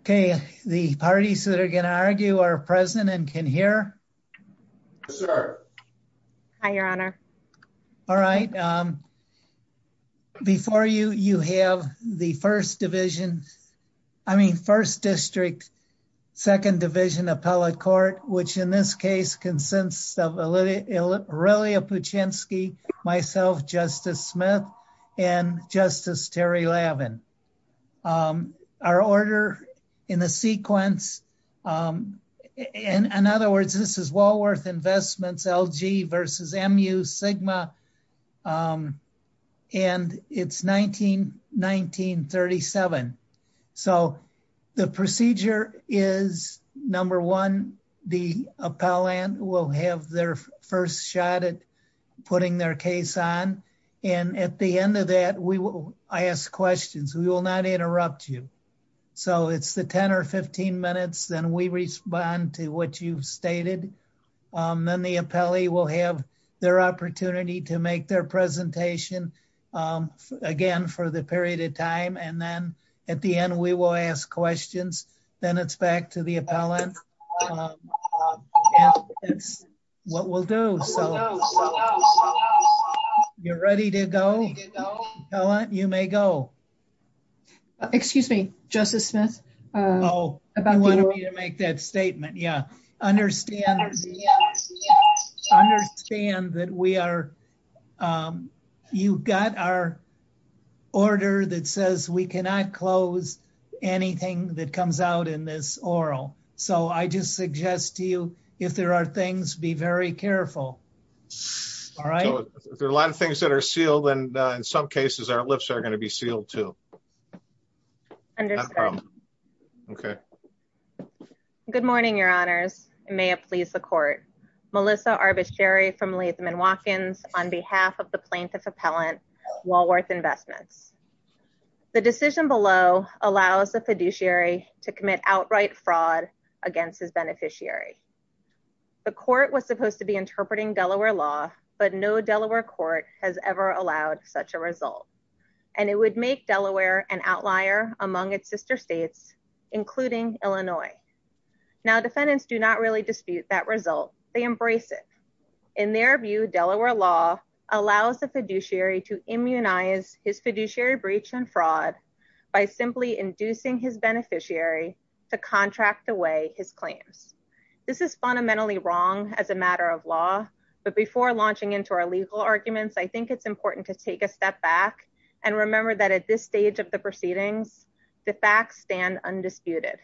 Okay, the parties that are going to argue are present and can hear. Yes, sir. Hi, Your Honor. All right. Before you, you have the First Division, I mean First District, Second Division Appellate Court, which in this case consists of Aurelia Puchinski, myself, Justice Smith, and Justice Terry Lavin. Our order in the sequence, in other words, this is Walworth Investments, LG versus MU Sigma, and it's 19-19-1937. So the procedure is, number one, the appellant will have their first shot at putting their case on. And at the end of that, we will ask questions. We will not interrupt you. So it's the 10 or 15 minutes, then we respond to what you've stated. Then the appellee will have their opportunity to make their presentation again for the period of time. And then at the end, we will ask questions. Then it's back to the appellant. It's what we'll do. You're ready to go. You may go. Excuse me, Justice Smith. I understand that you've got our order that says we cannot close anything that comes out in this oral. So I just suggest to you, if there are things, be very careful. All right? So if there are a lot of things that are sealed, then in some cases, our lips are going to be sealed too. Understood. Okay. Good morning, Your Honors. May it please the court. Melissa Arbuscheri from Latham & Watkins on behalf of the plaintiff appellant, Walworth Investments. The decision below allows the fiduciary to commit outright fraud against his beneficiary. The court was supposed to be interpreting Delaware law, but no Delaware court has ever allowed such a result. And it would make Delaware an outlier among its sister states, including Illinois. Now defendants do not really dispute that result. They embrace it. In their view, Delaware law allows the fiduciary to immunize his fiduciary breach and fraud by simply inducing his beneficiary to contract away his claims. This is fundamentally wrong as a matter of law, but before launching into our legal arguments, I think it's important to take a step back and remember that at this stage of the proceedings, the facts stand undisputed.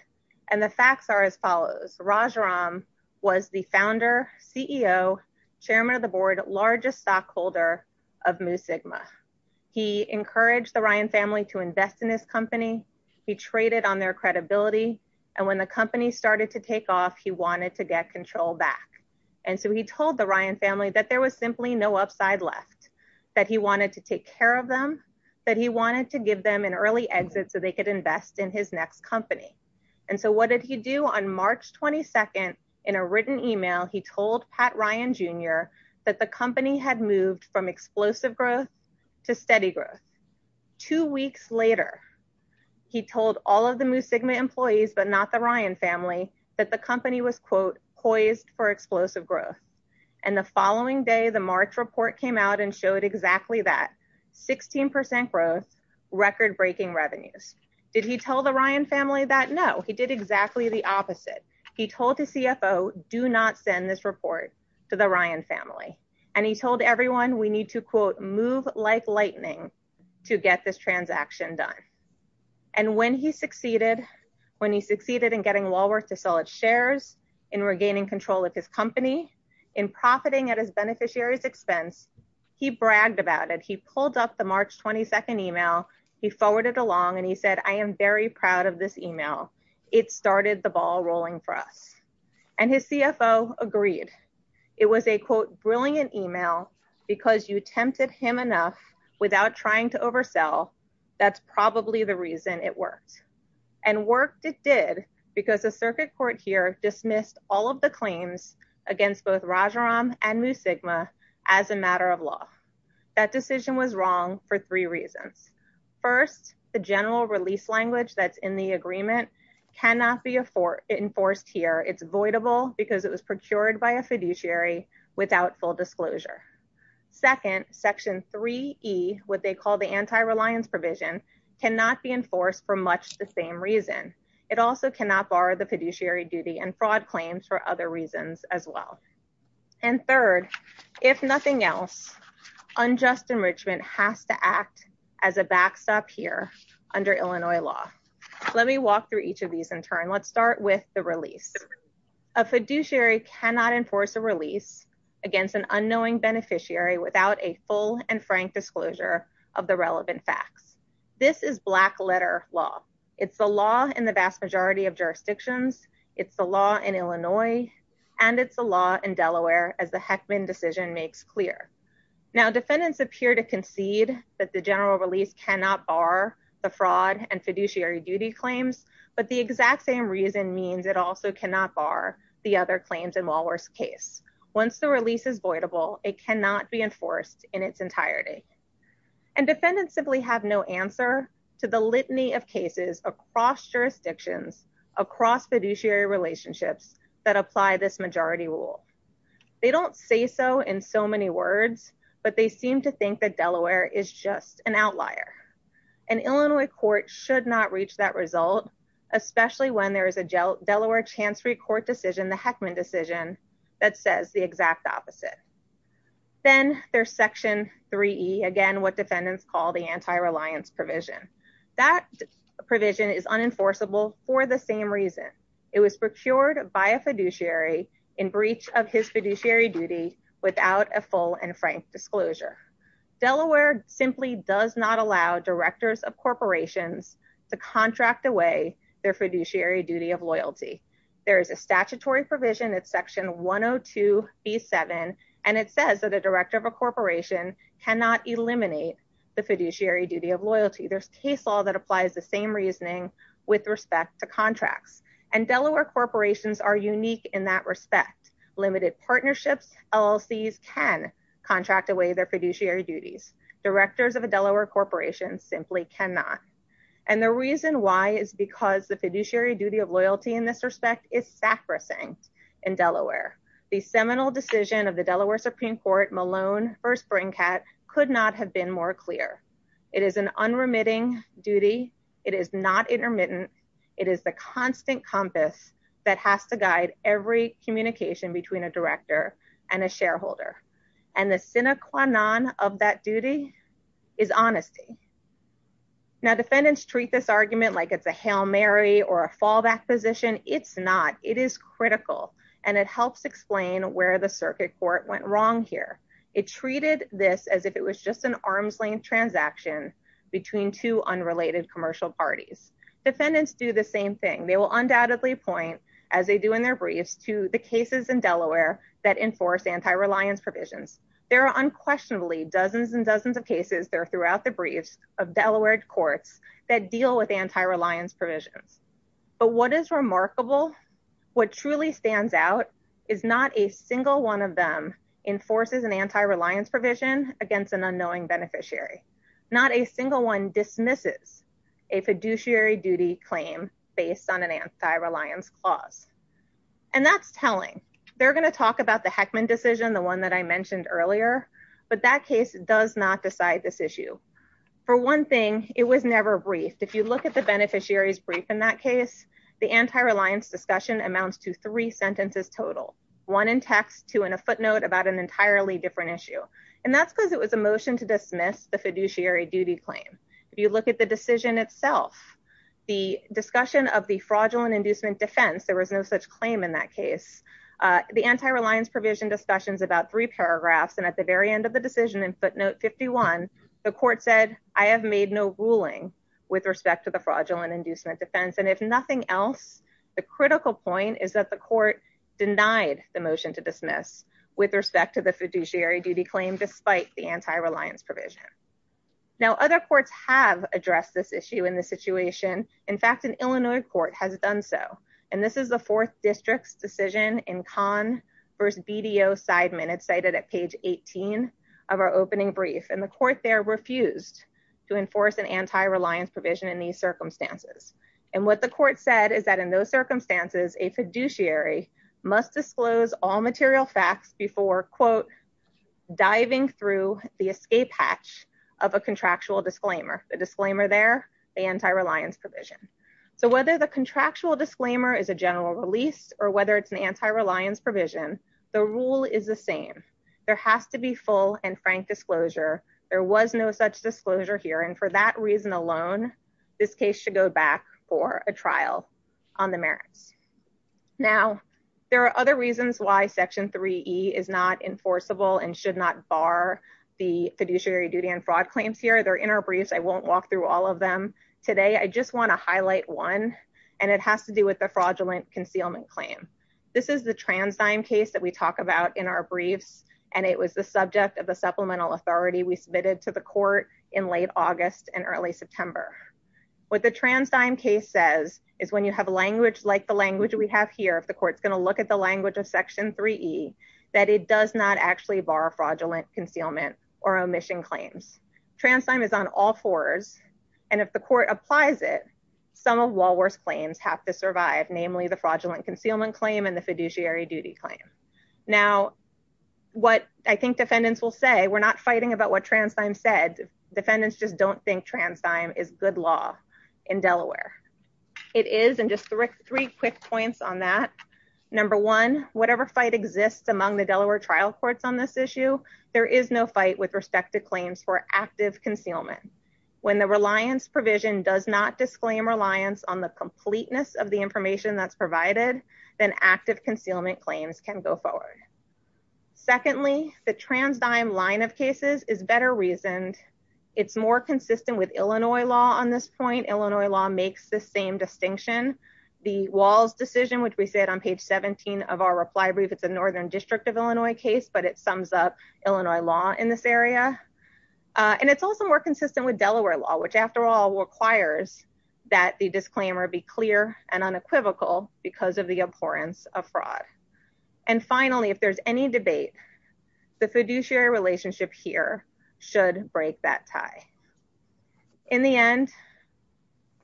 And the facts are as follows. Raj Ram was the founder, CEO, chairman of the board, largest stockholder of Mu Sigma. He encouraged the Ryan family to invest in his company. He traded on their credibility. And when the company started to take off, he wanted to get control back. And so he told the Ryan family that there was simply no upside left, that he wanted to take care of them, that he wanted to give them an early exit so they could invest in his next company. And so what did he do? On March 22nd, in a written email, he told Pat Ryan Jr. that the company had moved from explosive growth to steady growth. Two weeks later, he told all of the Mu but not the Ryan family that the company was, quote, poised for explosive growth. And the following day, the March report came out and showed exactly that, 16 percent growth, record-breaking revenues. Did he tell the Ryan family that? No, he did exactly the opposite. He told the CFO, do not send this report to the Ryan family. And he told everyone we need to, quote, move like lightning to get this transaction done. And when he succeeded, when he succeeded in getting Walworth to sell its shares, in regaining control of his company, in profiting at his beneficiary's expense, he bragged about it. He pulled up the March 22nd email. He forwarded along and he said, I am very proud of this email. It started the ball rolling for us. And his CFO agreed. It was a, quote, brilliant email because you tempted him enough without trying to oversell. That's probably the reason it worked. And worked it did because the circuit court here dismissed all of the claims against both Rajaram and Mu Sigma as a matter of law. That decision was wrong for three reasons. First, the general release language that's in the voidable because it was procured by a fiduciary without full disclosure. Second, Section 3E, what they call the anti-reliance provision, cannot be enforced for much the same reason. It also cannot borrow the fiduciary duty and fraud claims for other reasons as well. And third, if nothing else, unjust enrichment has to act as a backstop here under Illinois law. Let me walk through each of these in turn. Let's start with the release. A fiduciary cannot enforce a release against an unknowing beneficiary without a full and frank disclosure of the relevant facts. This is black letter law. It's the law in the vast majority of jurisdictions. It's the law in Illinois and it's the law in Delaware as the Heckman decision makes clear. Now, defendants appear to concede that the general release cannot bar the fraud and fiduciary duty claims, but the exact same reason means it also cannot bar the other claims in Walworth's case. Once the release is voidable, it cannot be enforced in its entirety. And defendants simply have no answer to the litany of cases across jurisdictions, across fiduciary relationships that apply this majority rule. They don't say so in so many words, but they seem to think that Delaware is just an outlier. An Illinois court should not reach that result, especially when there is a Delaware chancery court decision, the Heckman decision that says the exact opposite. Then there's section 3E, again, what defendants call the anti-reliance provision. That provision is unenforceable for the same reason. It was disclosure. Delaware simply does not allow directors of corporations to contract away their fiduciary duty of loyalty. There is a statutory provision. It's section 102B7. And it says that a director of a corporation cannot eliminate the fiduciary duty of loyalty. There's case law that applies the same reasoning with respect to contracts. And Delaware corporations are unique in that respect. Limited partnerships, LLCs can contract away their fiduciary duties. Directors of a Delaware corporation simply cannot. And the reason why is because the fiduciary duty of loyalty in this respect is sacrificing in Delaware. The seminal decision of the Delaware Supreme Court, Malone v. Brinkhead, could not have been more clear. It is an unremitting duty. It is not intermittent. It is the constant compass that has to guide every communication between a director and a shareholder. And the sine qua non of that duty is honesty. Now, defendants treat this argument like it's a Hail Mary or a fallback position. It's not. It is critical. And it helps explain where the circuit court went wrong here. It treated this as if it was just an arms-length transaction between two unrelated commercial parties. Defendants do the same thing. They will undoubtedly point, as they do in their briefs, to the cases in Delaware that enforce anti-reliance provisions. There are unquestionably dozens and dozens of cases there throughout the briefs of Delaware courts that deal with anti-reliance provisions. But what is remarkable, what truly stands out, is not a single one of them enforces an anti-reliance provision against an unknowing beneficiary. Not a single one dismisses a fiduciary duty claim based on an anti-reliance clause. And that's telling. They're going to talk about the Heckman decision, the one that I mentioned earlier, but that case does not decide this issue. For one thing, it was never briefed. If you look at the beneficiary's brief in that case, the anti-reliance discussion amounts to three sentences total, one in text, two in a footnote about an entirely different issue. And that's because it was a motion to dismiss the fiduciary duty claim. If you look at the decision itself, the discussion of the fraudulent inducement defense, there was no such claim in that case. The anti-reliance provision discussions about three paragraphs, and at the very end of the decision in footnote 51, the court said, I have made no ruling with respect to the fraudulent inducement defense. And if nothing else, the critical point is that the court denied the motion to dismiss with respect to the fiduciary duty claim, despite the anti-reliance provision. Now other courts have addressed this issue in the situation. In fact, an Illinois court has done so, and this is the fourth district's decision in Conn versus BDO side minutes cited at page 18 of our opening brief. And the court there refused to enforce an anti-reliance provision in these circumstances. And what the court said is that in those circumstances, a fiduciary must disclose all material facts before quote, diving through the escape hatch of a contractual disclaimer, a disclaimer there, the anti-reliance provision. So whether the contractual disclaimer is a general release or whether it's an anti-reliance provision, the rule is the same. There has to be full and frank disclosure. There was no such disclosure here. And for that reason alone, this case should go back for a trial on the merits. Now there are other reasons why section 3E is not enforceable and should not bar the fiduciary duty and fraud claims here. They're in our briefs. I won't walk through all of them today. I just want to highlight one and it has to do with the fraudulent concealment claim. This is the trans time case that we talk about in our briefs. And it was the subject of the supplemental authority we submitted to the court in late August and early September with the trans time case says is when you have a language like the language we have here, if the court's going to look at the language of section 3E, that it does not actually bar fraudulent concealment or omission claims. Trans time is on all fours. And if the court applies it, some of Walworth's claims have to survive, namely the fraudulent concealment claim and the fiduciary duty claim. Now, what I think defendants will say, we're not fighting about what trans time said. Defendants just don't think trans time is good law in Delaware. It is. And just three quick points on that. Number one, whatever fight exists among the Delaware trial courts on this issue, there is no fight with respect to claims for active concealment. When the reliance provision does not disclaim reliance on the completeness of the information that's provided, then active claims can go forward. Secondly, the trans dime line of cases is better reasoned. It's more consistent with Illinois law on this point. Illinois law makes the same distinction. The walls decision, which we said on page 17 of our reply brief, it's a Northern district of Illinois case, but it sums up Illinois law in this area. And it's also more consistent with Delaware law, which after all requires that the disclaimer be clear and unequivocal because of the abhorrence of fraud. And finally, if there's any debate, the fiduciary relationship here should break that tie. In the end,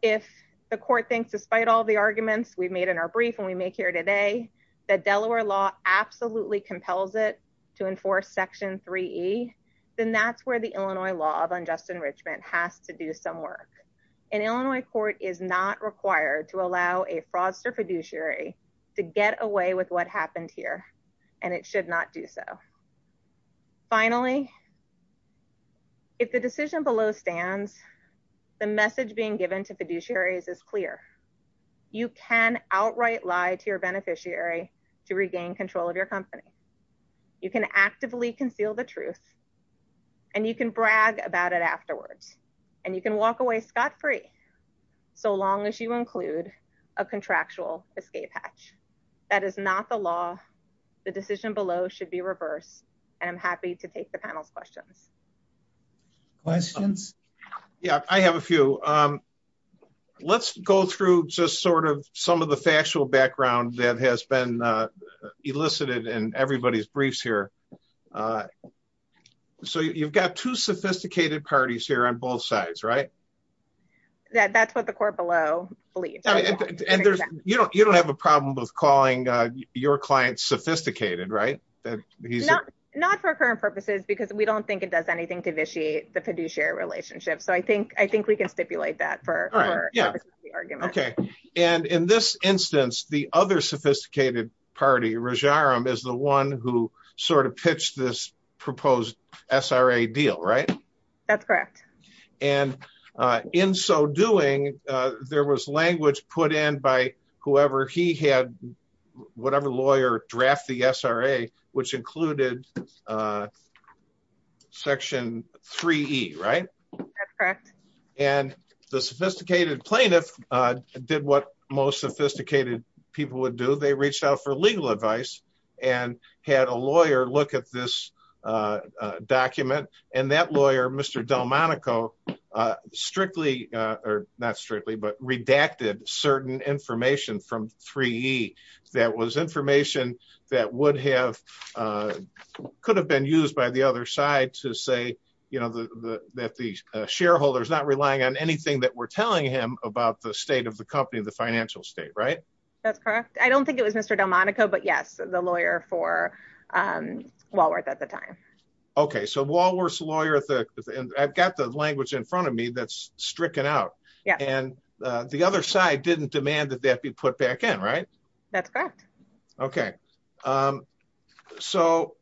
if the court thinks, despite all the arguments we've made in our brief and we make here today, that Delaware law absolutely compels it to enforce section 3E, then that's where the Illinois law of unjust enrichment has to do some work. An Illinois court is not required to allow a fraudster fiduciary to get away with what happened here, and it should not do so. Finally, if the decision below stands, the message being given to fiduciaries is clear. You can outright lie to your beneficiary to regain control of your company. You can actively conceal the truth and you can brag about it free, so long as you include a contractual escape hatch. That is not the law. The decision below should be reversed. And I'm happy to take the panel's questions. Questions? Yeah, I have a few. Let's go through just sort of some of the factual background that has been elicited in everybody's briefs here. So you've got two sophisticated parties here on both sides, right? That's what the court below believes. And you don't have a problem with calling your client sophisticated, right? Not for current purposes, because we don't think it does anything to vitiate the fiduciary relationship. So I think we can stipulate that for the argument. Okay. And in this instance, the other sophisticated party, Rajaram, is the one who sort of pitched this proposed SRA deal, right? That's correct. And in so doing, there was language put in by whoever he had, whatever lawyer, draft the SRA, which included Section 3E, right? That's correct. And the sophisticated plaintiff did what most sophisticated people would do. They reached out for legal advice, and had a lawyer look at this document. And that lawyer, Mr. Delmonico, strictly, or not strictly, but redacted certain information from 3E that was information that would have, could have been used by the other side to say, you know, that the shareholders not relying on anything that we're telling him about the state of the company, the financial state, right? That's correct. I don't think it was Mr. Delmonico, but yes, the lawyer for Walworth at the time. Okay. So Walworth's lawyer, I've got the language in front of me that's stricken out. Yeah. And the other side didn't demand that that be put back in, right? That's correct. Okay. So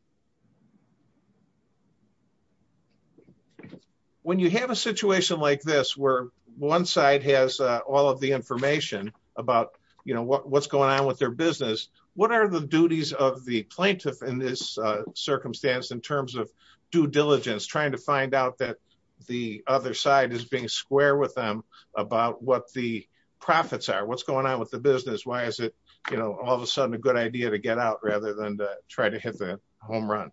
when you have a situation like this, where one side has all of the information about, you know, what's going on with their business, what are the duties of the plaintiff in this circumstance, in terms of due diligence, trying to find out that the other side is being square with them about what the profits are, what's going on with the business? Why is it, you know, all of a sudden a good idea to get out rather than try to hit the home run?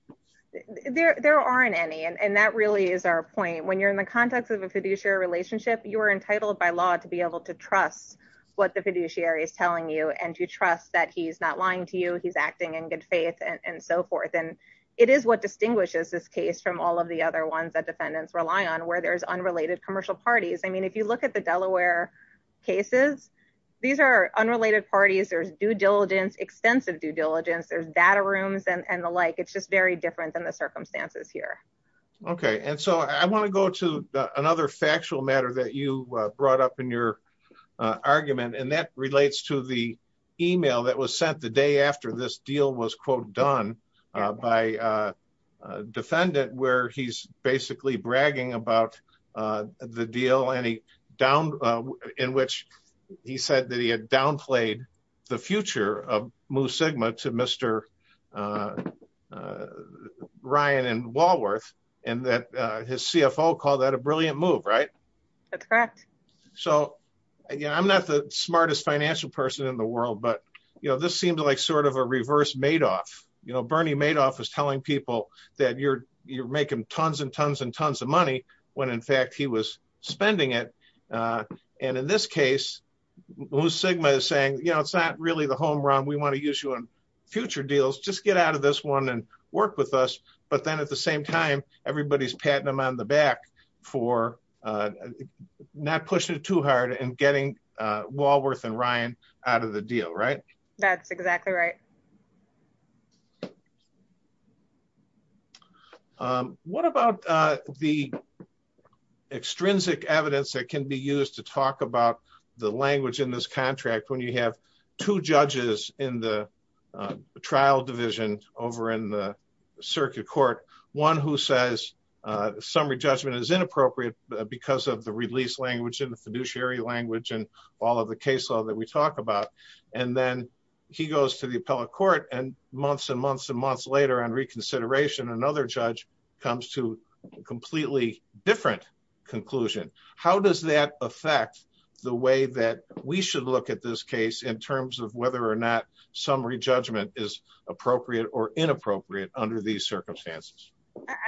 There aren't any, and that really is our point. When you're in the context of a fiduciary relationship, you are entitled by law to be able to trust what the fiduciary is telling you and to trust that he's not lying to you, he's acting in good faith and so forth. And it is what distinguishes this case from all of the other ones that defendants rely on where there's unrelated commercial parties. I mean, if you look at the Delaware cases, these are unrelated parties, there's due diligence, extensive due diligence, there's data rooms and the like, it's just very different than the circumstances here. Okay, and so I want to go to another factual matter that you brought up in your argument, and that relates to the email that was sent the day after this deal was, quote, done by a defendant where he's basically bragging about the deal in which he said that he had downplayed the future of Mu Sigma to Mr. Ryan and Walworth, and that his CFO called that a brilliant move, right? That's correct. So, yeah, I'm not the smartest financial person in the world. But, you know, this seems like sort of a reverse Madoff, you know, Bernie Madoff is telling people that you're, you're making tons and tons and tons of money, when in fact, he was spending it. And in this case, Mu Sigma is saying, you know, it's not really the home run, we want to use you on future deals, just get out of this one and work with us. But then at the same time, everybody's patting them on the back for not pushing it too hard and getting Walworth and Ryan out of the deal, right? That's exactly right. Okay. What about the extrinsic evidence that can be used to talk about the language in this contract when you have two judges in the trial division over in the circuit court, one who says, summary judgment is inappropriate, because of the release language and the fiduciary language and all of the case law that we talked about. And then he goes to the appellate court and months and months and months later on reconsideration, another judge comes to completely different conclusion. How does that affect the way that we should look at this case in terms of whether or not summary judgment is appropriate or inappropriate under these circumstances?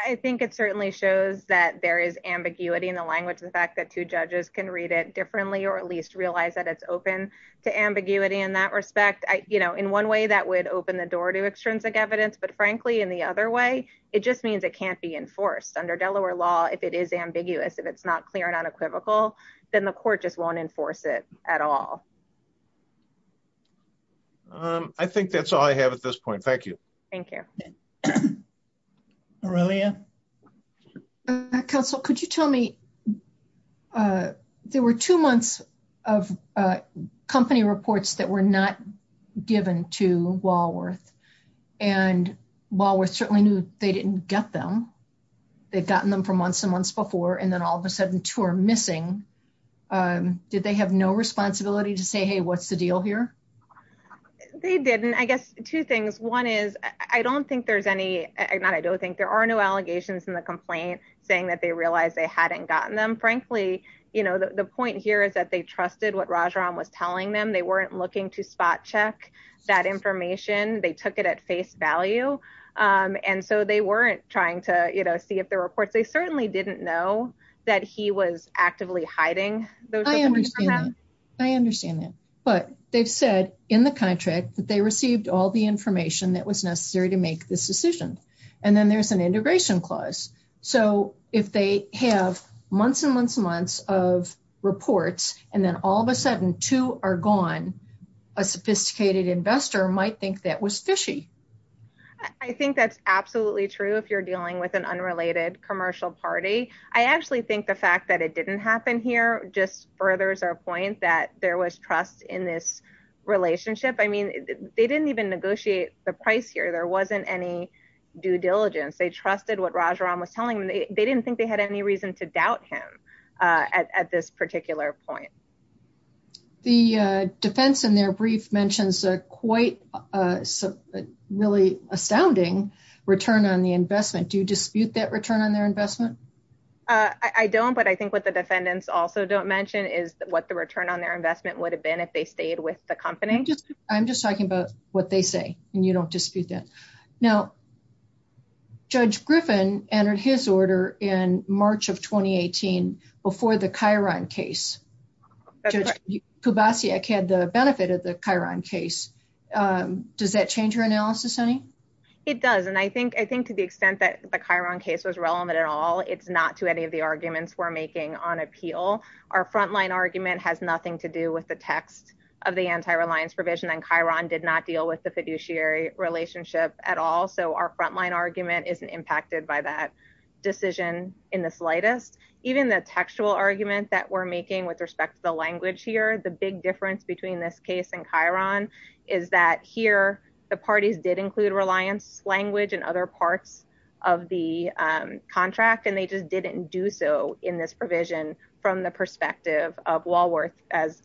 I think it certainly shows that there is ambiguity in the language, the fact that two judges can read it differently, or at least realize that it's open to ambiguity in that respect, I, you know, in one way, that would open the door to extrinsic evidence. But frankly, in the other way, it just means it can't be enforced under Delaware law, if it is ambiguous, if it's not clear and unequivocal, then the court just won't enforce it at all. I think that's all I have at this point. Thank you. Thank you. Aurelia? Counsel, could you tell me, there were two months of company reports that were not given to Walworth. And Walworth certainly knew they didn't get them. They've gotten them for months and months before, and then all of a sudden two are missing. Did they have no responsibility to say, what's the deal here? They didn't, I guess, two things. One is, I don't think there's any, not I don't think there are no allegations in the complaint saying that they realized they hadn't gotten them. Frankly, you know, the point here is that they trusted what Rajaram was telling them, they weren't looking to spot check that information, they took it at face value. And so they weren't trying to, you know, see if the reports, they certainly didn't know that he was actively hiding those. I understand that. But they've said in the contract that they received all the information that was necessary to make this decision. And then there's an integration clause. So if they have months and months and months of reports, and then all of a sudden two are gone, a sophisticated investor might think that was fishy. I think that's absolutely true. If you're dealing with an unrelated commercial party. I actually think the fact that it didn't happen here just furthers our point that there was trust in this relationship. I mean, they didn't even negotiate the price here. There wasn't any due diligence. They trusted what Rajaram was telling them. They didn't think they had any reason to doubt him at this particular point. The defense in their brief mentions a quite really astounding return on the investment. Do you dispute that return on their investment? I don't. But I think what the defendants also don't mention is what the return on their investment would have been if they stayed with the company. I'm just talking about what they say. And you don't dispute that. Now, Judge Griffin entered his order in March of 2018 before the Chiron case. Judge Kubasiak had the benefit of the Chiron case. Does that change your analysis, honey? It does. And I think to the extent that the Chiron case was relevant at all, it's not to any of the arguments we're making on appeal. Our frontline argument has nothing to do with the text of the anti-reliance provision. And Chiron did not deal with the fiduciary relationship at all. So our frontline argument isn't impacted by that decision in the slightest. Even the textual argument that we're making with respect to the language here, the big difference between this case and Chiron is that here the parties did include reliance language in other parts of the contract. And they just didn't do so in this provision from the perspective of Walworth as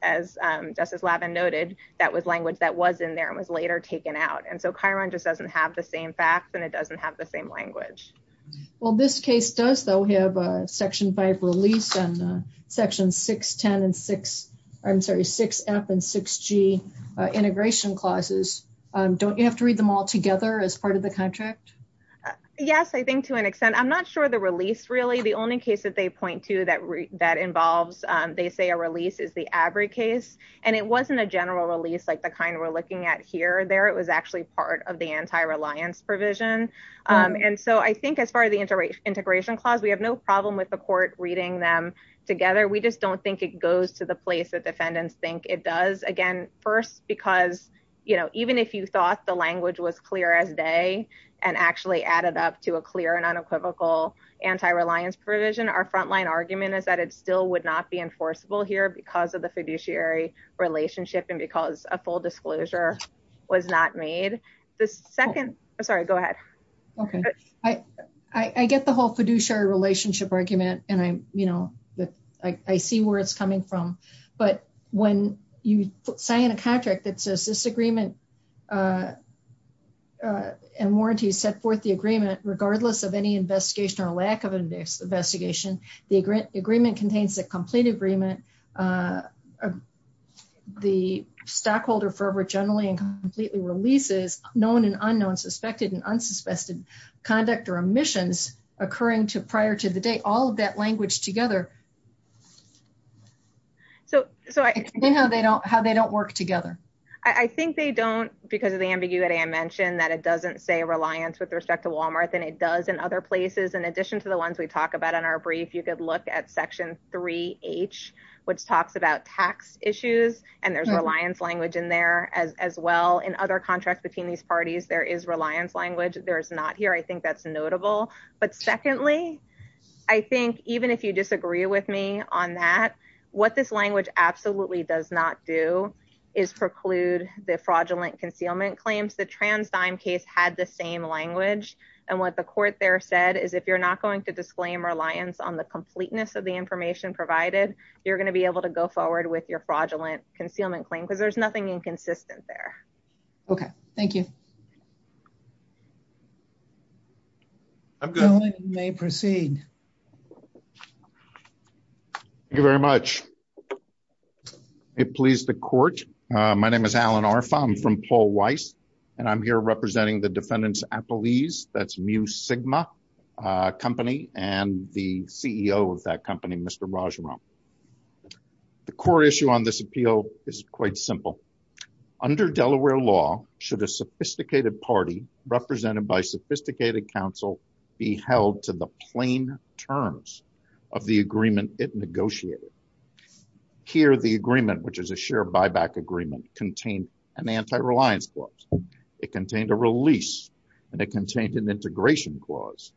Justice Lavin noted, that was language that was in there and was later taken out. And so Chiron just doesn't have the same facts and it doesn't have the same language. Well, this case does though have a section five release and section 610 and 6, I'm sorry, 6F and 6G integration clauses. Don't you have to read them all together as part of the contract? Yes, I think to an extent. I'm not sure the release really, the only case that they point to that involves, they say a release is the ABRI case. And it wasn't a general release like the anti-reliance provision. And so I think as far as the integration clause, we have no problem with the court reading them together. We just don't think it goes to the place that defendants think it does. Again, first, because even if you thought the language was clear as day and actually added up to a clear and unequivocal anti-reliance provision, our frontline argument is that it still would not be enforceable here because of the fiduciary relationship and because a full disclosure was not made. The second, I'm sorry, go ahead. Okay. I get the whole fiduciary relationship argument and I'm, you know, I see where it's coming from. But when you sign a contract that says this agreement and warranties set forth the agreement, regardless of any investigation or lack of investigation, the agreement contains a complete agreement. The stockholder forever generally and completely releases known and unknown suspected and unsuspected conduct or omissions occurring to prior to the date, all of that language together. So how they don't work together? I think they don't because of the ambiguity I mentioned that it doesn't say reliance with respect to Walmart than it does in other places. In addition to the ones we talk about in our brief, you could look at section three H which talks about tax issues and there's reliance language in there as well. In other contracts between these parties, there is reliance language. There's not here. I think that's notable. But secondly, I think even if you disagree with me on that, what this language absolutely does not do is preclude the fraudulent concealment claims. The trans dime case had the same language. And what the court there said is if you're not going to disclaim reliance on the completeness of the information provided, you're going to be able to go forward with your fraudulent concealment claim because there's nothing inconsistent there. Okay, thank you. I'm going to may proceed. Thank you very much. It pleased the court. My name is Alan are found from Paul Weiss. And I'm here representing the defendants at Belize. That's mu sigma company and the CEO of that company, Mr. Raj Ram. The core issue on this appeal is quite simple. Under Delaware law, should a sophisticated party represented by sophisticated counsel be held to the plain terms of the agreement it negotiated? Here, the agreement which is a share buyback agreement contained an anti reliance clause, it contained a release, and it contained an integration clause.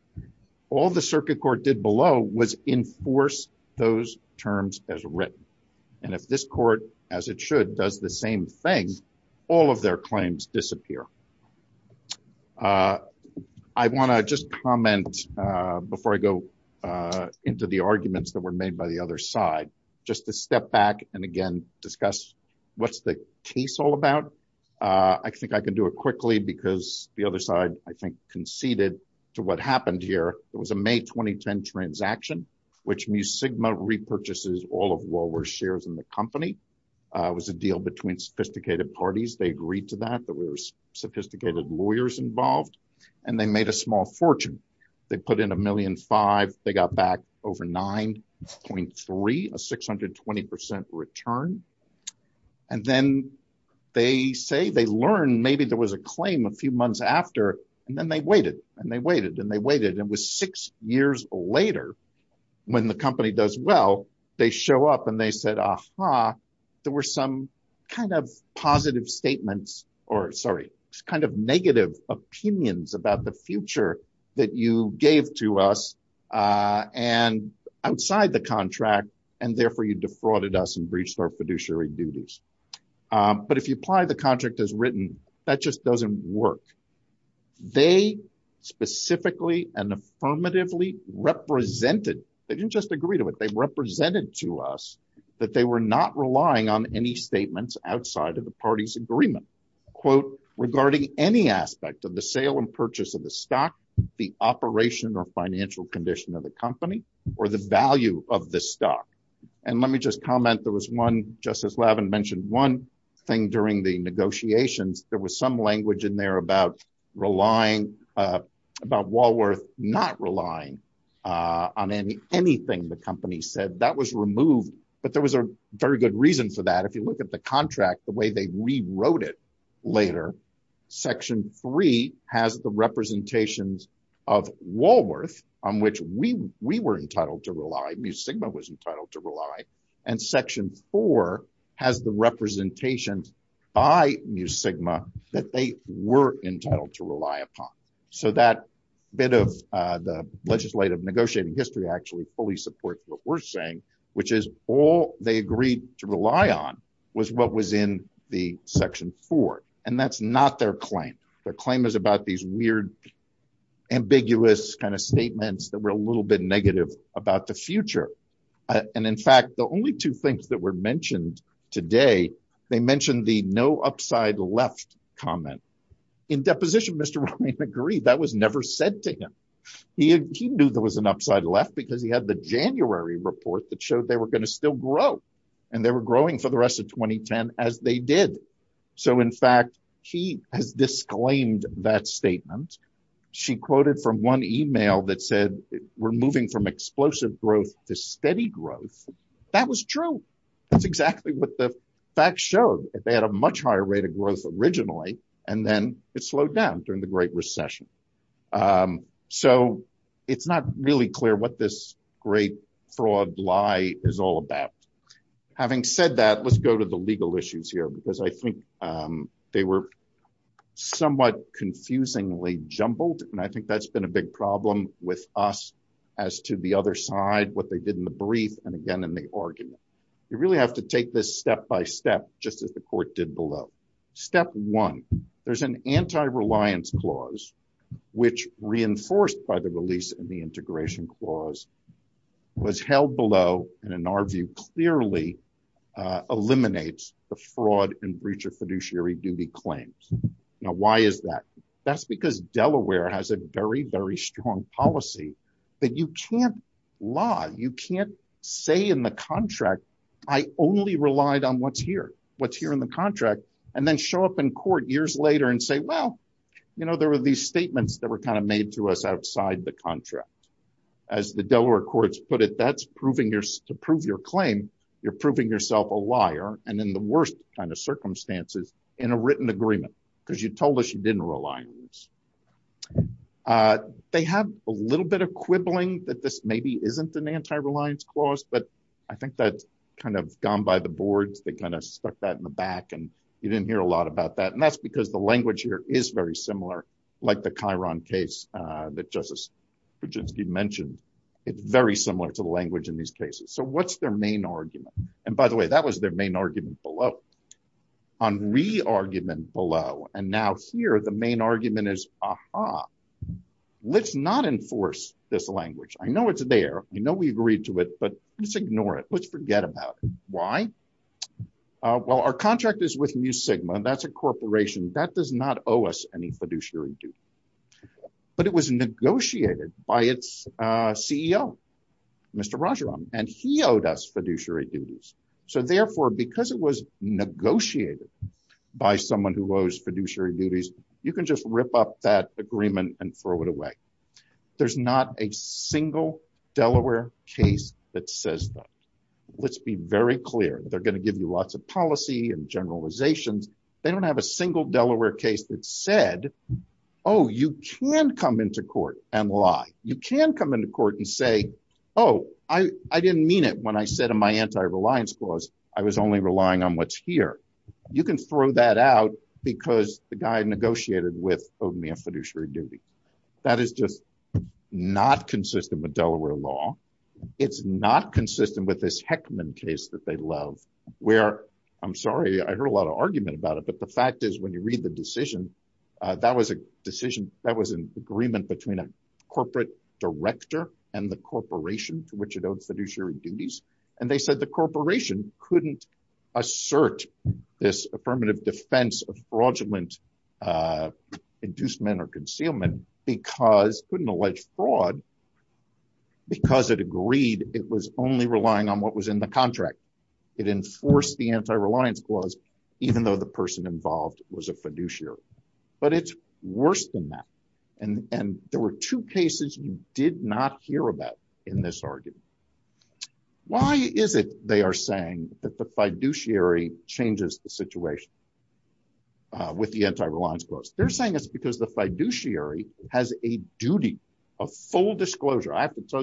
All the circuit court did below was enforce those terms as written. And if this court as it should does the same thing, all of their claims disappear. I want to just comment, before I go into the arguments that were made by the other side, just to step back and again, discuss what's the case all about? I think I can do it quickly, because the other side, I think conceded to what happened here. It was a May 2010 transaction, which mu sigma repurchases all of what were shares in the company was a deal between sophisticated parties, they agreed to that there were sophisticated lawyers involved. And they made a small fortune. They put in a million five, they got back over 9.3, a 620% return. And then they say they learn maybe there was a claim a few months after, and then they waited and they waited and they waited and was six years later, when the company does well, they show up and they said, Aha, there were some kind of positive and outside the contract, and therefore you defrauded us and breached our fiduciary duties. But if you apply the contract as written, that just doesn't work. They specifically and affirmatively represented, they didn't just agree to it, they represented to us that they were not relying on any statements outside of the party's agreement, quote, regarding any aspect of the sale purchase of the stock, the operation or financial condition of the company, or the value of the stock. And let me just comment there was one justice Levin mentioned one thing during the negotiations, there was some language in there about relying about Walworth not relying on any anything the company said that was removed. But there was a very good reason for that. If you the representations of Walworth, on which we we were entitled to rely, mu sigma was entitled to rely. And section four has the representations by mu sigma that they were entitled to rely upon. So that bit of the legislative negotiating history actually fully supports what we're saying, which is all they agreed to rely on was what was in the section four. And that's not their claim. Their claim is about these weird, ambiguous kind of statements that were a little bit negative about the future. And in fact, the only two things that were mentioned today, they mentioned the no upside left comment. In deposition, Mr. McGree, that was never said to him. He knew there was an upside left because he had the January report that showed they were going to still grow. And that statement, she quoted from one email that said, we're moving from explosive growth to steady growth. That was true. That's exactly what the facts showed. They had a much higher rate of growth originally. And then it slowed down during the Great Recession. So it's not really clear what this great fraud lie is all about. Having said that, let's go to the legal issues here, because I think they were somewhat confusingly jumbled. And I think that's been a big problem with us as to the other side, what they did in the brief. And again, in the argument, you really have to take this step by step, just as the court did below. Step one, there's an anti-reliance clause, which reinforced by the release and the integration clause was held below, and in our view, clearly eliminates the fraud and breacher fiduciary duty claims. Now, why is that? That's because Delaware has a very, very strong policy that you can't lie, you can't say in the contract, I only relied on what's here, what's here in the contract, and then show up in court years later and say, well, you know, there were these statements that were kind of made to us you're proving yourself a liar, and in the worst kind of circumstances, in a written agreement, because you told us you didn't rely on this. They have a little bit of quibbling that this maybe isn't an anti-reliance clause. But I think that's kind of gone by the boards, they kind of stuck that in the back. And you didn't hear a lot about that. And that's because the language here is very similar, like the Chiron case that Justice By the way, that was their main argument below. On re-argument below, and now here, the main argument is, aha, let's not enforce this language. I know it's there. I know we agreed to it. But let's ignore it. Let's forget about it. Why? Well, our contract is with Mu Sigma, that's a corporation that does not owe us any fiduciary duty. But it was negotiated by its CEO, Mr. Rajaram, and he owed us fiduciary duties. So therefore, because it was negotiated by someone who owes fiduciary duties, you can just rip up that agreement and throw it away. There's not a single Delaware case that says that. Let's be very clear, they're going to give you lots of policy and generalizations. They don't have a single Delaware case that said, Oh, you can come to court and lie. You can come into court and say, Oh, I didn't mean it when I said in my anti-reliance clause, I was only relying on what's here. You can throw that out because the guy negotiated with owed me a fiduciary duty. That is just not consistent with Delaware law. It's not consistent with this Heckman case that they love, where I'm sorry, I heard a lot of argument about it. But the fact is, when you read the decision, that was a decision that was an agreement between a corporate director and the corporation to which it owes fiduciary duties. And they said the corporation couldn't assert this affirmative defense of fraudulent inducement or concealment because couldn't allege fraud. Because it agreed it was only relying on what was in the contract. It enforced the anti-reliance clause, even though the person involved was a fiduciary. But it's worse than that. And there were two cases you did not hear about in this argument. Why is it they are saying that the fiduciary changes the situation with the anti-reliance clause? They're saying it's because the fiduciary has a duty of full disclosure. Yes.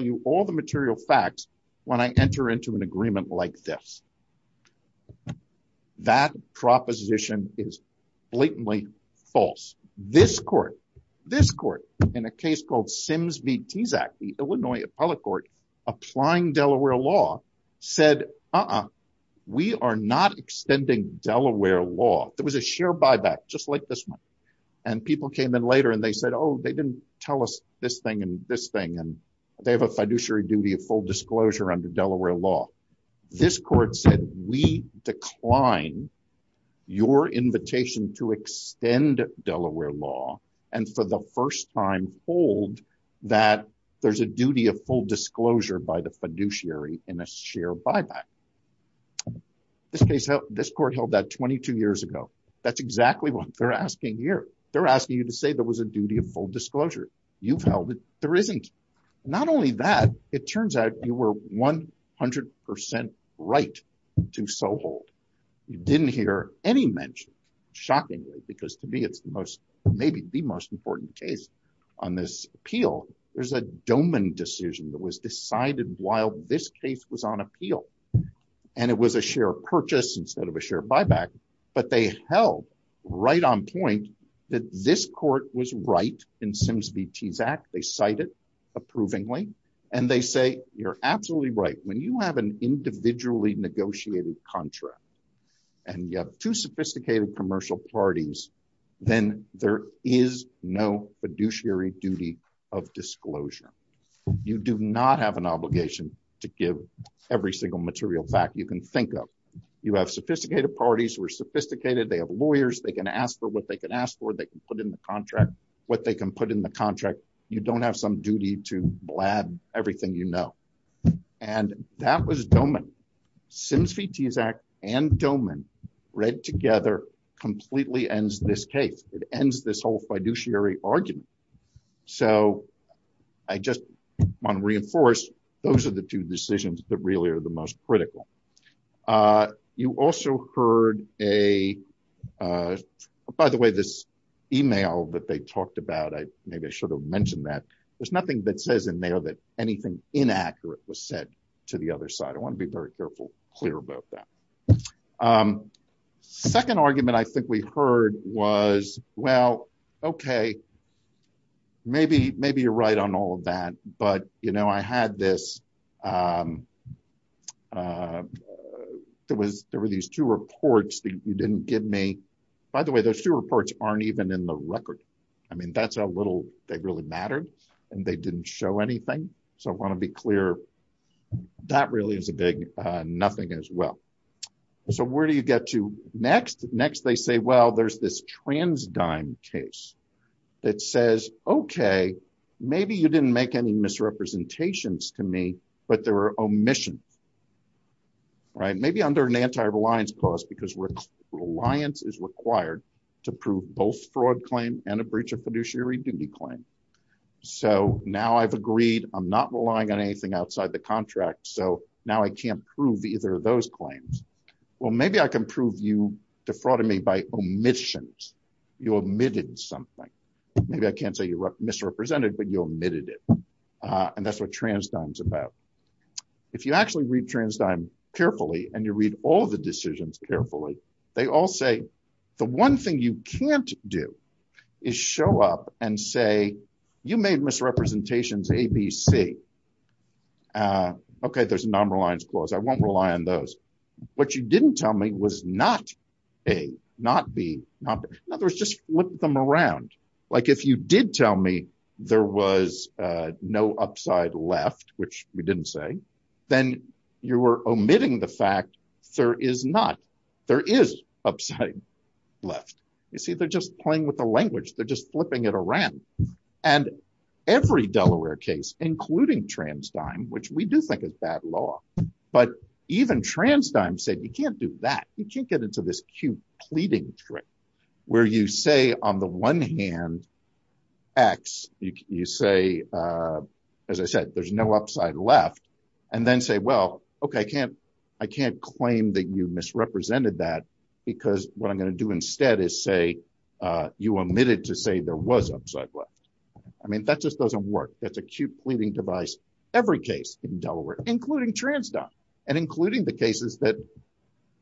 That proposition is blatantly false. This court, this court, in a case called Sims v. Tezak, the Illinois Appellate Court, applying Delaware law, said, uh-uh, we are not extending Delaware law. There was a sheer buyback, just like this one. And people came in later and they said, oh, they didn't tell us this thing and this thing. And they have a fiduciary duty of full disclosure under Delaware law. This court said, we decline your invitation to extend Delaware law and for the first time hold that there's a duty of full disclosure by the fiduciary in a sheer buyback. This case, this court held that 22 years ago. That's exactly what they're asking here. They're asking you to say there was a duty of full disclosure. You've held it. There isn't. Not only that, it turns out you were 100 percent right to so hold. You didn't hear any mention, shockingly, because to me it's the most, maybe the most important case on this appeal. There's a domain decision that was decided while this case was on appeal. And it was a sheer purchase instead of a sheer buyback. But they held right on point that this court was right in Sims v. Tezak. They and they say, you're absolutely right when you have an individually negotiated contract and you have two sophisticated commercial parties, then there is no fiduciary duty of disclosure. You do not have an obligation to give every single material fact you can think of. You have sophisticated parties who are sophisticated. They have lawyers. They can ask for what they can ask for. They can put in the contract what they can put in the contract. You don't have some duty to blab everything, you know. And that was Doman. Sims v. Tezak and Doman read together completely ends this case. It ends this whole fiduciary argument. So I just want to reinforce those are the two decisions that really are the most critical. Uh, you also heard a, uh, by the way, this email that they talked about, I maybe I should have mentioned that there's nothing that says in there that anything inaccurate was said to the other side. I want to be very careful, clear about that. Um, second argument I think we heard was, well, okay, maybe, maybe you're right on all of that, but, you know, I had this, um, uh, there was, there were these two reports that you didn't give me, by the way, those two reports aren't even in the record. I mean, that's a little, they really mattered and they didn't show anything. So I want to be clear that really is a big, uh, nothing as well. So where do you get to next? Next they say, well, there's this trans dime case that says, okay, maybe you didn't make any misrepresentations to me, but there were omissions, right? Maybe under an anti-reliance clause because reliance is required to prove both fraud claim and a breach of fiduciary duty claim. So now I've agreed, I'm not relying on anything outside the contract. So now I can't prove either those claims. Well, maybe I can prove you defrauded me by omissions. You omitted something. Maybe I can't say you're misrepresented, but you omitted it. Uh, and that's what trans time's about. If you actually read trans time carefully and you read all the decisions carefully, they all say, the one thing you can't do is show up and say, you made misrepresentations ABC. Uh, okay. There's a non-reliance clause. I won't rely on those. What you didn't tell me was not A, not B, not B. In other words, just flip them around. Like if you did tell me there was, uh, no upside left, which we didn't say, then you were omitting the fact there is not, there is upside left. You see, they're just playing with the language. They're just flipping it around. And every Delaware case, including trans time, which we do think is bad law, but even trans time said, you can't do that. You can't get into this cute pleading trick where you say on the one hand, X, you say, uh, as I said, there's no upside left and then say, well, okay. I can't, I can't claim that you misrepresented that because what I'm going to do instead is say, uh, you omitted to say there was upside left. I mean, that just doesn't work. That's a cute pleading device. Every case in Delaware, including trans time and including the cases that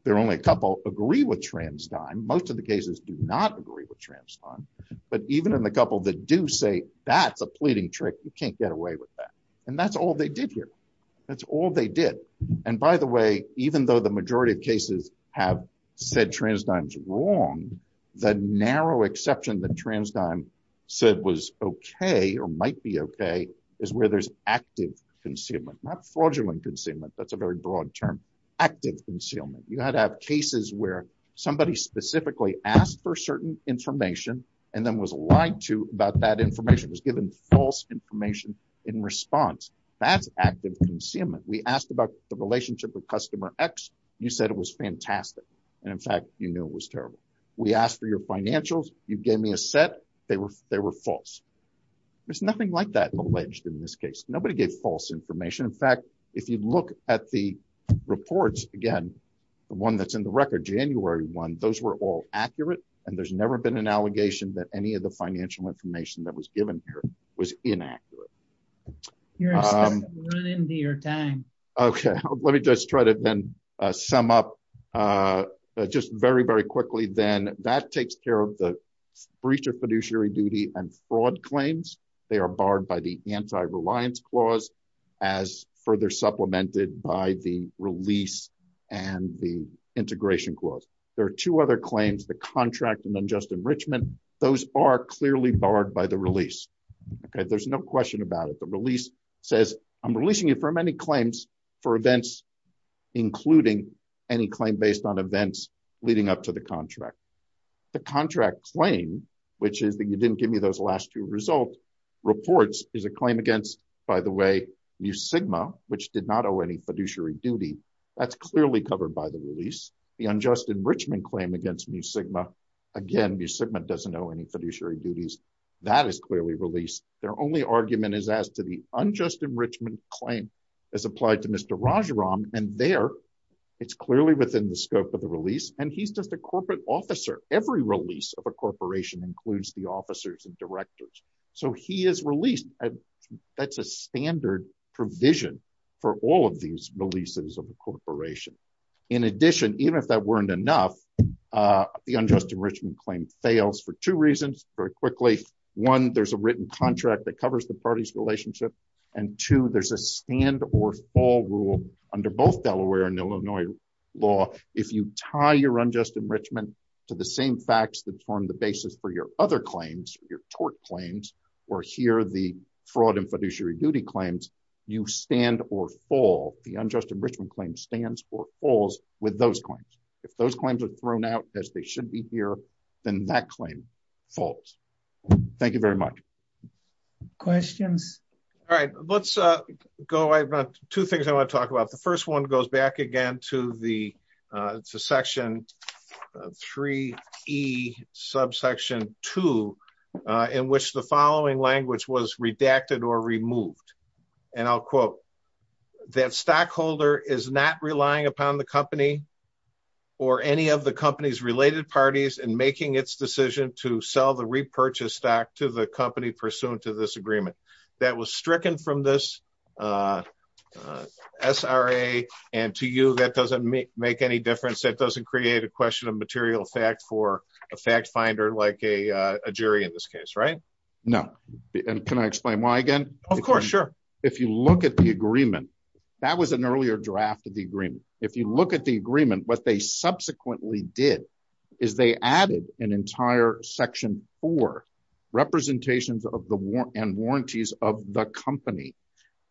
there are only a couple agree with trans time. Most of the cases do not agree with trans time, but even in the couple that do say that's a pleading trick, you can't get away with that. And that's all they did here. That's all they did. And by the way, even though the majority of cases have said trans times wrong, the narrow exception that trans time said was okay or might be okay is where there's active concealment, not fraudulent concealment. That's a very broad term. Active concealment. You had to have cases where somebody specifically asked for certain information and then was lied to about that information was given false information in response. That's active concealment. We asked about the relationship with customer X. You said it was fantastic. And in fact, you knew it was terrible. We asked for your financials. You gave me a set. They were, they were false. There's nothing like that alleged in this case. Nobody gave false information. In fact, if you look at the reports again, the one that's in the record, January one, those were all accurate. And there's never been an allegation that any of the financial information that was inaccurate. Okay. Let me just try to then sum up just very, very quickly. Then that takes care of the breach of fiduciary duty and fraud claims. They are barred by the anti-reliance clause as further supplemented by the release and the integration clause. There are two other no question about it. The release says I'm releasing you for many claims for events, including any claim based on events leading up to the contract. The contract claim, which is that you didn't give me those last two results reports is a claim against by the way, new Sigma, which did not owe any fiduciary duty. That's clearly covered by the release. The unjust enrichment claim against new Sigma. Again, new Sigma doesn't know any fiduciary duties that is clearly released. Their only argument is as to the unjust enrichment claim as applied to Mr. Rajaram. And there, it's clearly within the scope of the release. And he's just a corporate officer. Every release of a corporation includes the officers and directors. So he is released. That's a standard provision for all of these releases of the corporation. In addition, even if that weren't enough the unjust enrichment claim fails for two reasons very quickly. One, there's a written contract that covers the party's relationship. And two, there's a stand or fall rule under both Delaware and Illinois law. If you tie your unjust enrichment to the same facts that form the basis for your other claims, your tort claims, or here the fraud and fiduciary duty claims, you stand or fall the unjust enrichment claim stands or falls with those claims. If those claims are thrown out as they should be here, then that claim falls. Thank you very much. Questions? All right. Let's go. I've got two things I want to talk about. The first one goes back again to the section 3E subsection 2, in which the following language was redacted or removed. And I'll quote, that stockholder is not relying upon the company or any of the company's related parties in making its decision to sell the repurchase stock to the company pursuant to this agreement. That was stricken from this SRA. And to you, that doesn't make any difference. That doesn't create a question of material fact for a fact finder like a jury in this case, right? No. And can I explain why again? Of course, sure. If you look at the agreement, that was an earlier draft of the agreement. If you look at the agreement, what they subsequently did is they added an entire section for representations of the war and warranties of the company.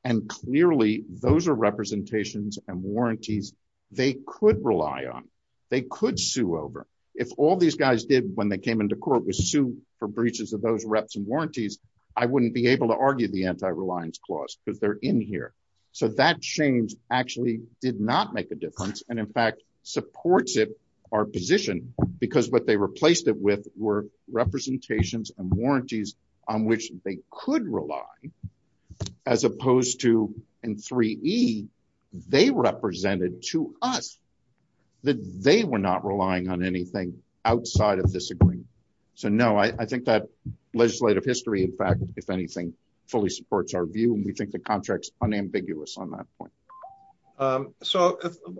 And clearly, those are representations and warranties, they could rely on, they could over. If all these guys did when they came into court was sue for breaches of those reps and warranties, I wouldn't be able to argue the anti-reliance clause because they're in here. So that change actually did not make a difference. And in fact, supports it, our position, because what they replaced it with were representations and warranties on which they could rely, as opposed to in 3E, they represented to us that they were not relying on anything outside of this agreement. So no, I think that legislative history, in fact, if anything, fully supports our view. And we think the contract's unambiguous on that point. So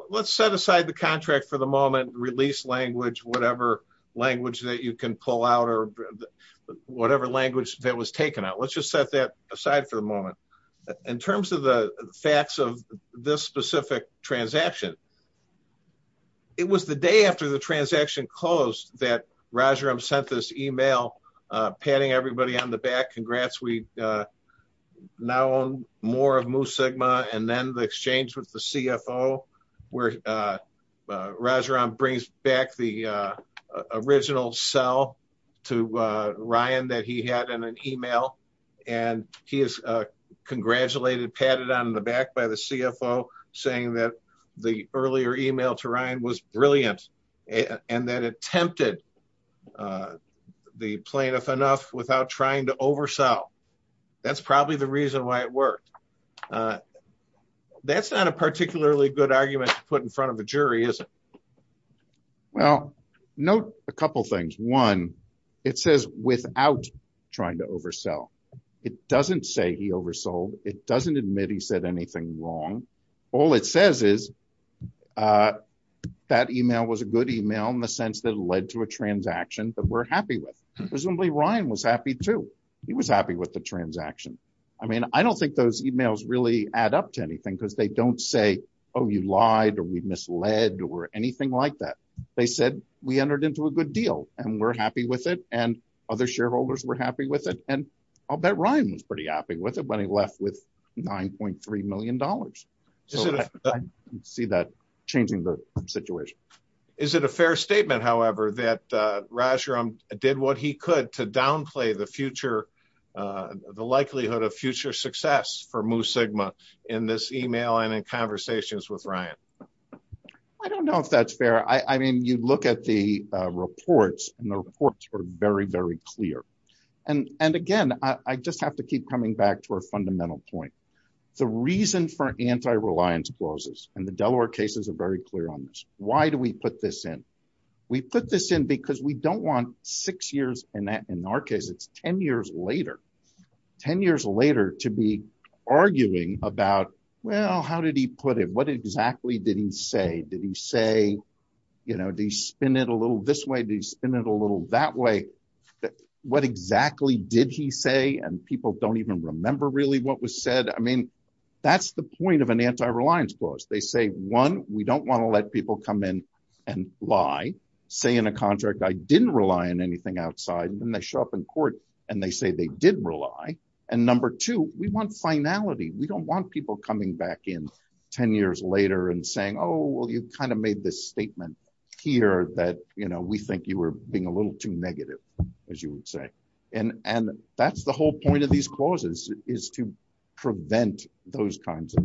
let's set aside the contract for the moment, release language, whatever language that you can out. Let's just set that aside for a moment. In terms of the facts of this specific transaction, it was the day after the transaction closed that Rajaram sent this email, patting everybody on the back, congrats, we now own more of Mu Sigma. And then the exchange with and he is congratulated, patted on the back by the CFO saying that the earlier email to Ryan was brilliant. And that attempted the plaintiff enough without trying to oversell. That's probably the reason why it worked. That's not a particularly good argument to put in front of the jury, is it? Well, note a couple things. One, it says without trying to oversell, it doesn't say he oversold, it doesn't admit he said anything wrong. All it says is that email was a good email in the sense that led to a transaction that we're happy with. Presumably, Ryan was happy too. He was happy with the transaction. I mean, I don't think those emails really add up to anything because they don't say, oh, you lied or we misled or anything like that. They said we entered into a good deal and we're happy with it and other shareholders were happy with it. And I'll bet Ryan was pretty happy with it when he left with $9.3 million. I see that changing the situation. Is it a fair statement, however, that Rajaram did what he could to downplay the likelihood of future success for conversations with Ryan? I don't know if that's fair. I mean, you look at the reports and the reports are very, very clear. And again, I just have to keep coming back to a fundamental point. The reason for anti-reliance clauses and the Delaware cases are very clear on this. Why do we put this in? We put this in because we don't want six years and in our case, it's 10 years later to be arguing about, well, how did he put it? What exactly did he say? Did he say, you know, do you spin it a little this way? Do you spin it a little that way? What exactly did he say? And people don't even remember really what was said. I mean, that's the point of an anti-reliance clause. They say, one, we don't want to let people come in and lie, say in a contract, I didn't rely on anything outside. And then they show up in court and they say they did rely. And number two, we want finality. We don't want people coming back in 10 years later and saying, oh, well, you've kind of made this statement here that, you know, we think you were being a little too negative, as you would say. And that's the whole point of these clauses is to prevent those kinds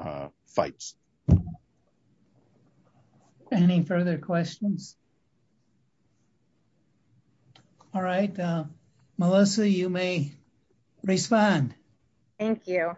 of fights. Any further questions? All right. Melissa, you may respond. Thank you.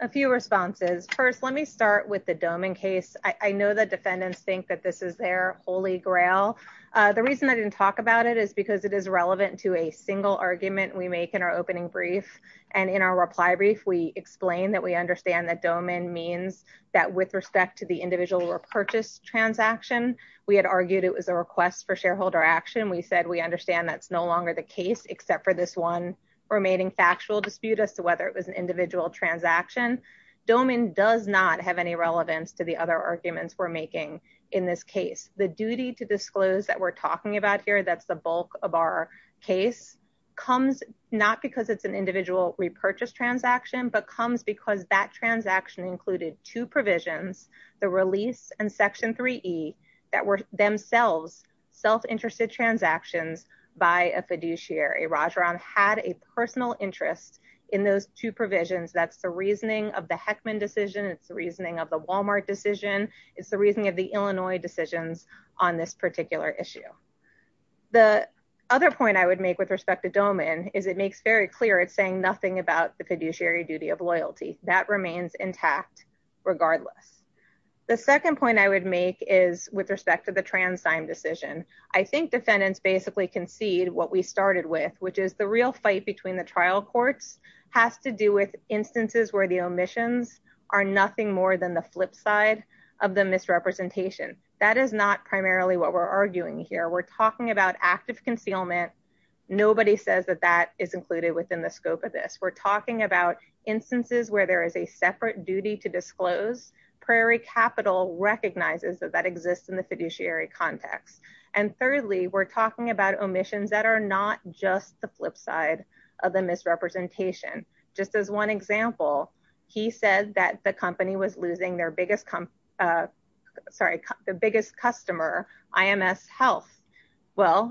A few responses. First, let me start with the Domen case. I know the defendants think that this is their holy grail. The reason I didn't talk about it is because it is relevant to a single argument we make in our opening brief. And in our reply brief, we explain that we understand that Domen means that with respect to the individual repurchase transaction, we had argued it was a request for shareholder action. We said we understand that's no longer the case except for this one remaining factual dispute as to whether it was an individual transaction. Domen does not have any relevance to the other arguments we're making in this case. The duty to disclose that we're talking about here, that's the bulk of our case, comes not because it's an individual repurchase transaction, but comes because that transaction included two that were themselves self-interested transactions by a fiduciary. Rajaram had a personal interest in those two provisions. That's the reasoning of the Heckman decision. It's the reasoning of the Walmart decision. It's the reasoning of the Illinois decisions on this particular issue. The other point I would make with respect to Domen is it makes very clear it's saying nothing about the fiduciary duty of loyalty. That remains intact regardless. The second point I would make is with respect to the Transdime decision. I think defendants basically concede what we started with, which is the real fight between the trial courts has to do with instances where the omissions are nothing more than the flip side of the misrepresentation. That is not primarily what we're arguing here. We're talking about active concealment. Nobody says that that is included within the scope of this. We're talking about instances where there is a separate duty to exist in the fiduciary context. Thirdly, we're talking about omissions that are not just the flip side of the misrepresentation. Just as one example, he said that the company was losing the biggest customer, IMS Health.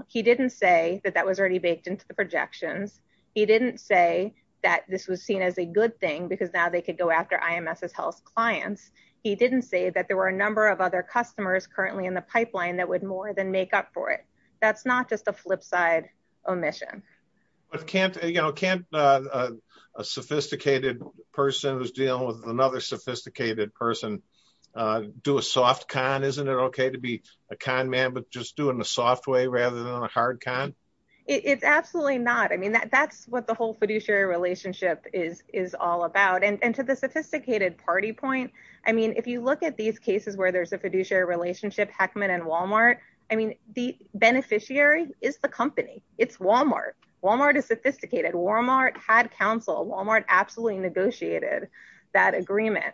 He didn't say that that was already baked into the projections. He didn't say that this was seen as a good thing because now they could go after IMS Health's clients. He didn't say that there were a number of other customers currently in the pipeline that would more than make up for it. That's not just a flip side omission. Can't a sophisticated person who's dealing with another sophisticated person do a soft con? Isn't it okay to be a con man but just do it in a soft way rather than a hard con? It's absolutely not. That's what the whole fiduciary relationship is all about. To the sophisticated party point, if you look at these cases where there's a fiduciary relationship, Heckman and Walmart, the beneficiary is the company. It's Walmart. Walmart is sophisticated. Walmart had counsel. Walmart absolutely negotiated that agreement.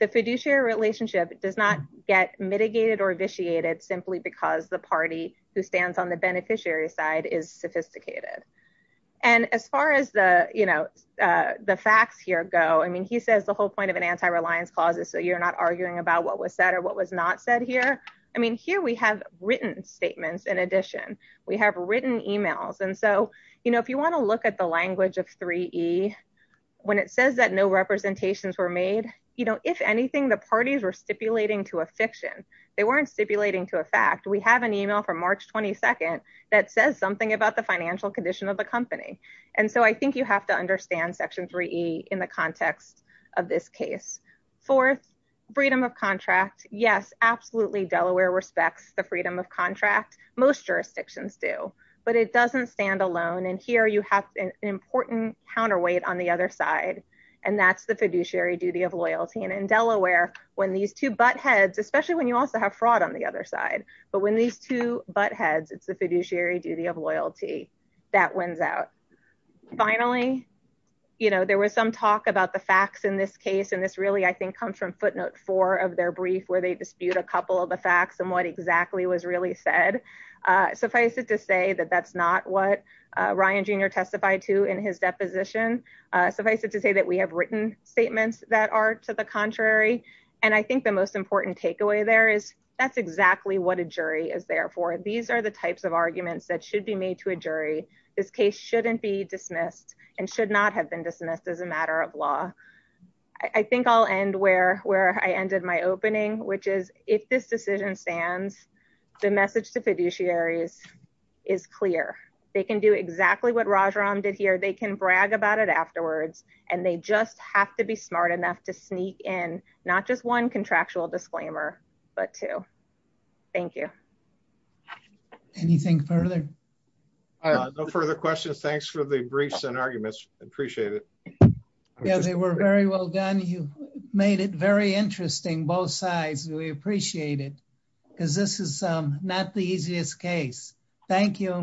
The fiduciary relationship does not get mitigated or vitiated simply because the party who stands on the beneficiary side is sophisticated. As far as the facts here go, he says the whole point of an anti-reliance clause is so you're not arguing about what was said or what was not said here. Here we have written statements. In addition, we have written emails. If you want to look at the language of 3E, when it says that no representations were made, if anything, the parties were stipulating to a fiction. They weren't stipulating to a fact. We have an email from March 22nd that says something about the financial condition of the company. I think you have to understand Section 3E in the context of this case. Fourth, freedom of contract. Yes, absolutely, Delaware respects the freedom of contract. Most jurisdictions do, but it doesn't stand alone. Here you have an important counterweight on the other side. That's the fiduciary duty of loyalty. In Delaware, when these two butt heads, especially when you also have on the other side, but when these two butt heads, it's the fiduciary duty of loyalty that wins out. Finally, there was some talk about the facts in this case. This really, I think, comes from footnote four of their brief where they dispute a couple of the facts and what exactly was really said. Suffice it to say that that's not what Ryan Jr. testified to in his deposition. Suffice it to say that we have written statements that are to the contrary. I think the most important thing to understand is that that's exactly what a jury is there for. These are the types of arguments that should be made to a jury. This case shouldn't be dismissed and should not have been dismissed as a matter of law. I think I'll end where I ended my opening, which is, if this decision stands, the message to fiduciaries is clear. They can do exactly what Raj Ram did here. They can brag about it afterwards. They just have to be smart enough to sneak in, not just one contractual disclaimer, but two. Thank you. Anything further? No further questions. Thanks for the briefs and arguments. I appreciate it. They were very well done. You made it very interesting, both sides. We appreciate it because this is not the easiest case. Thank you.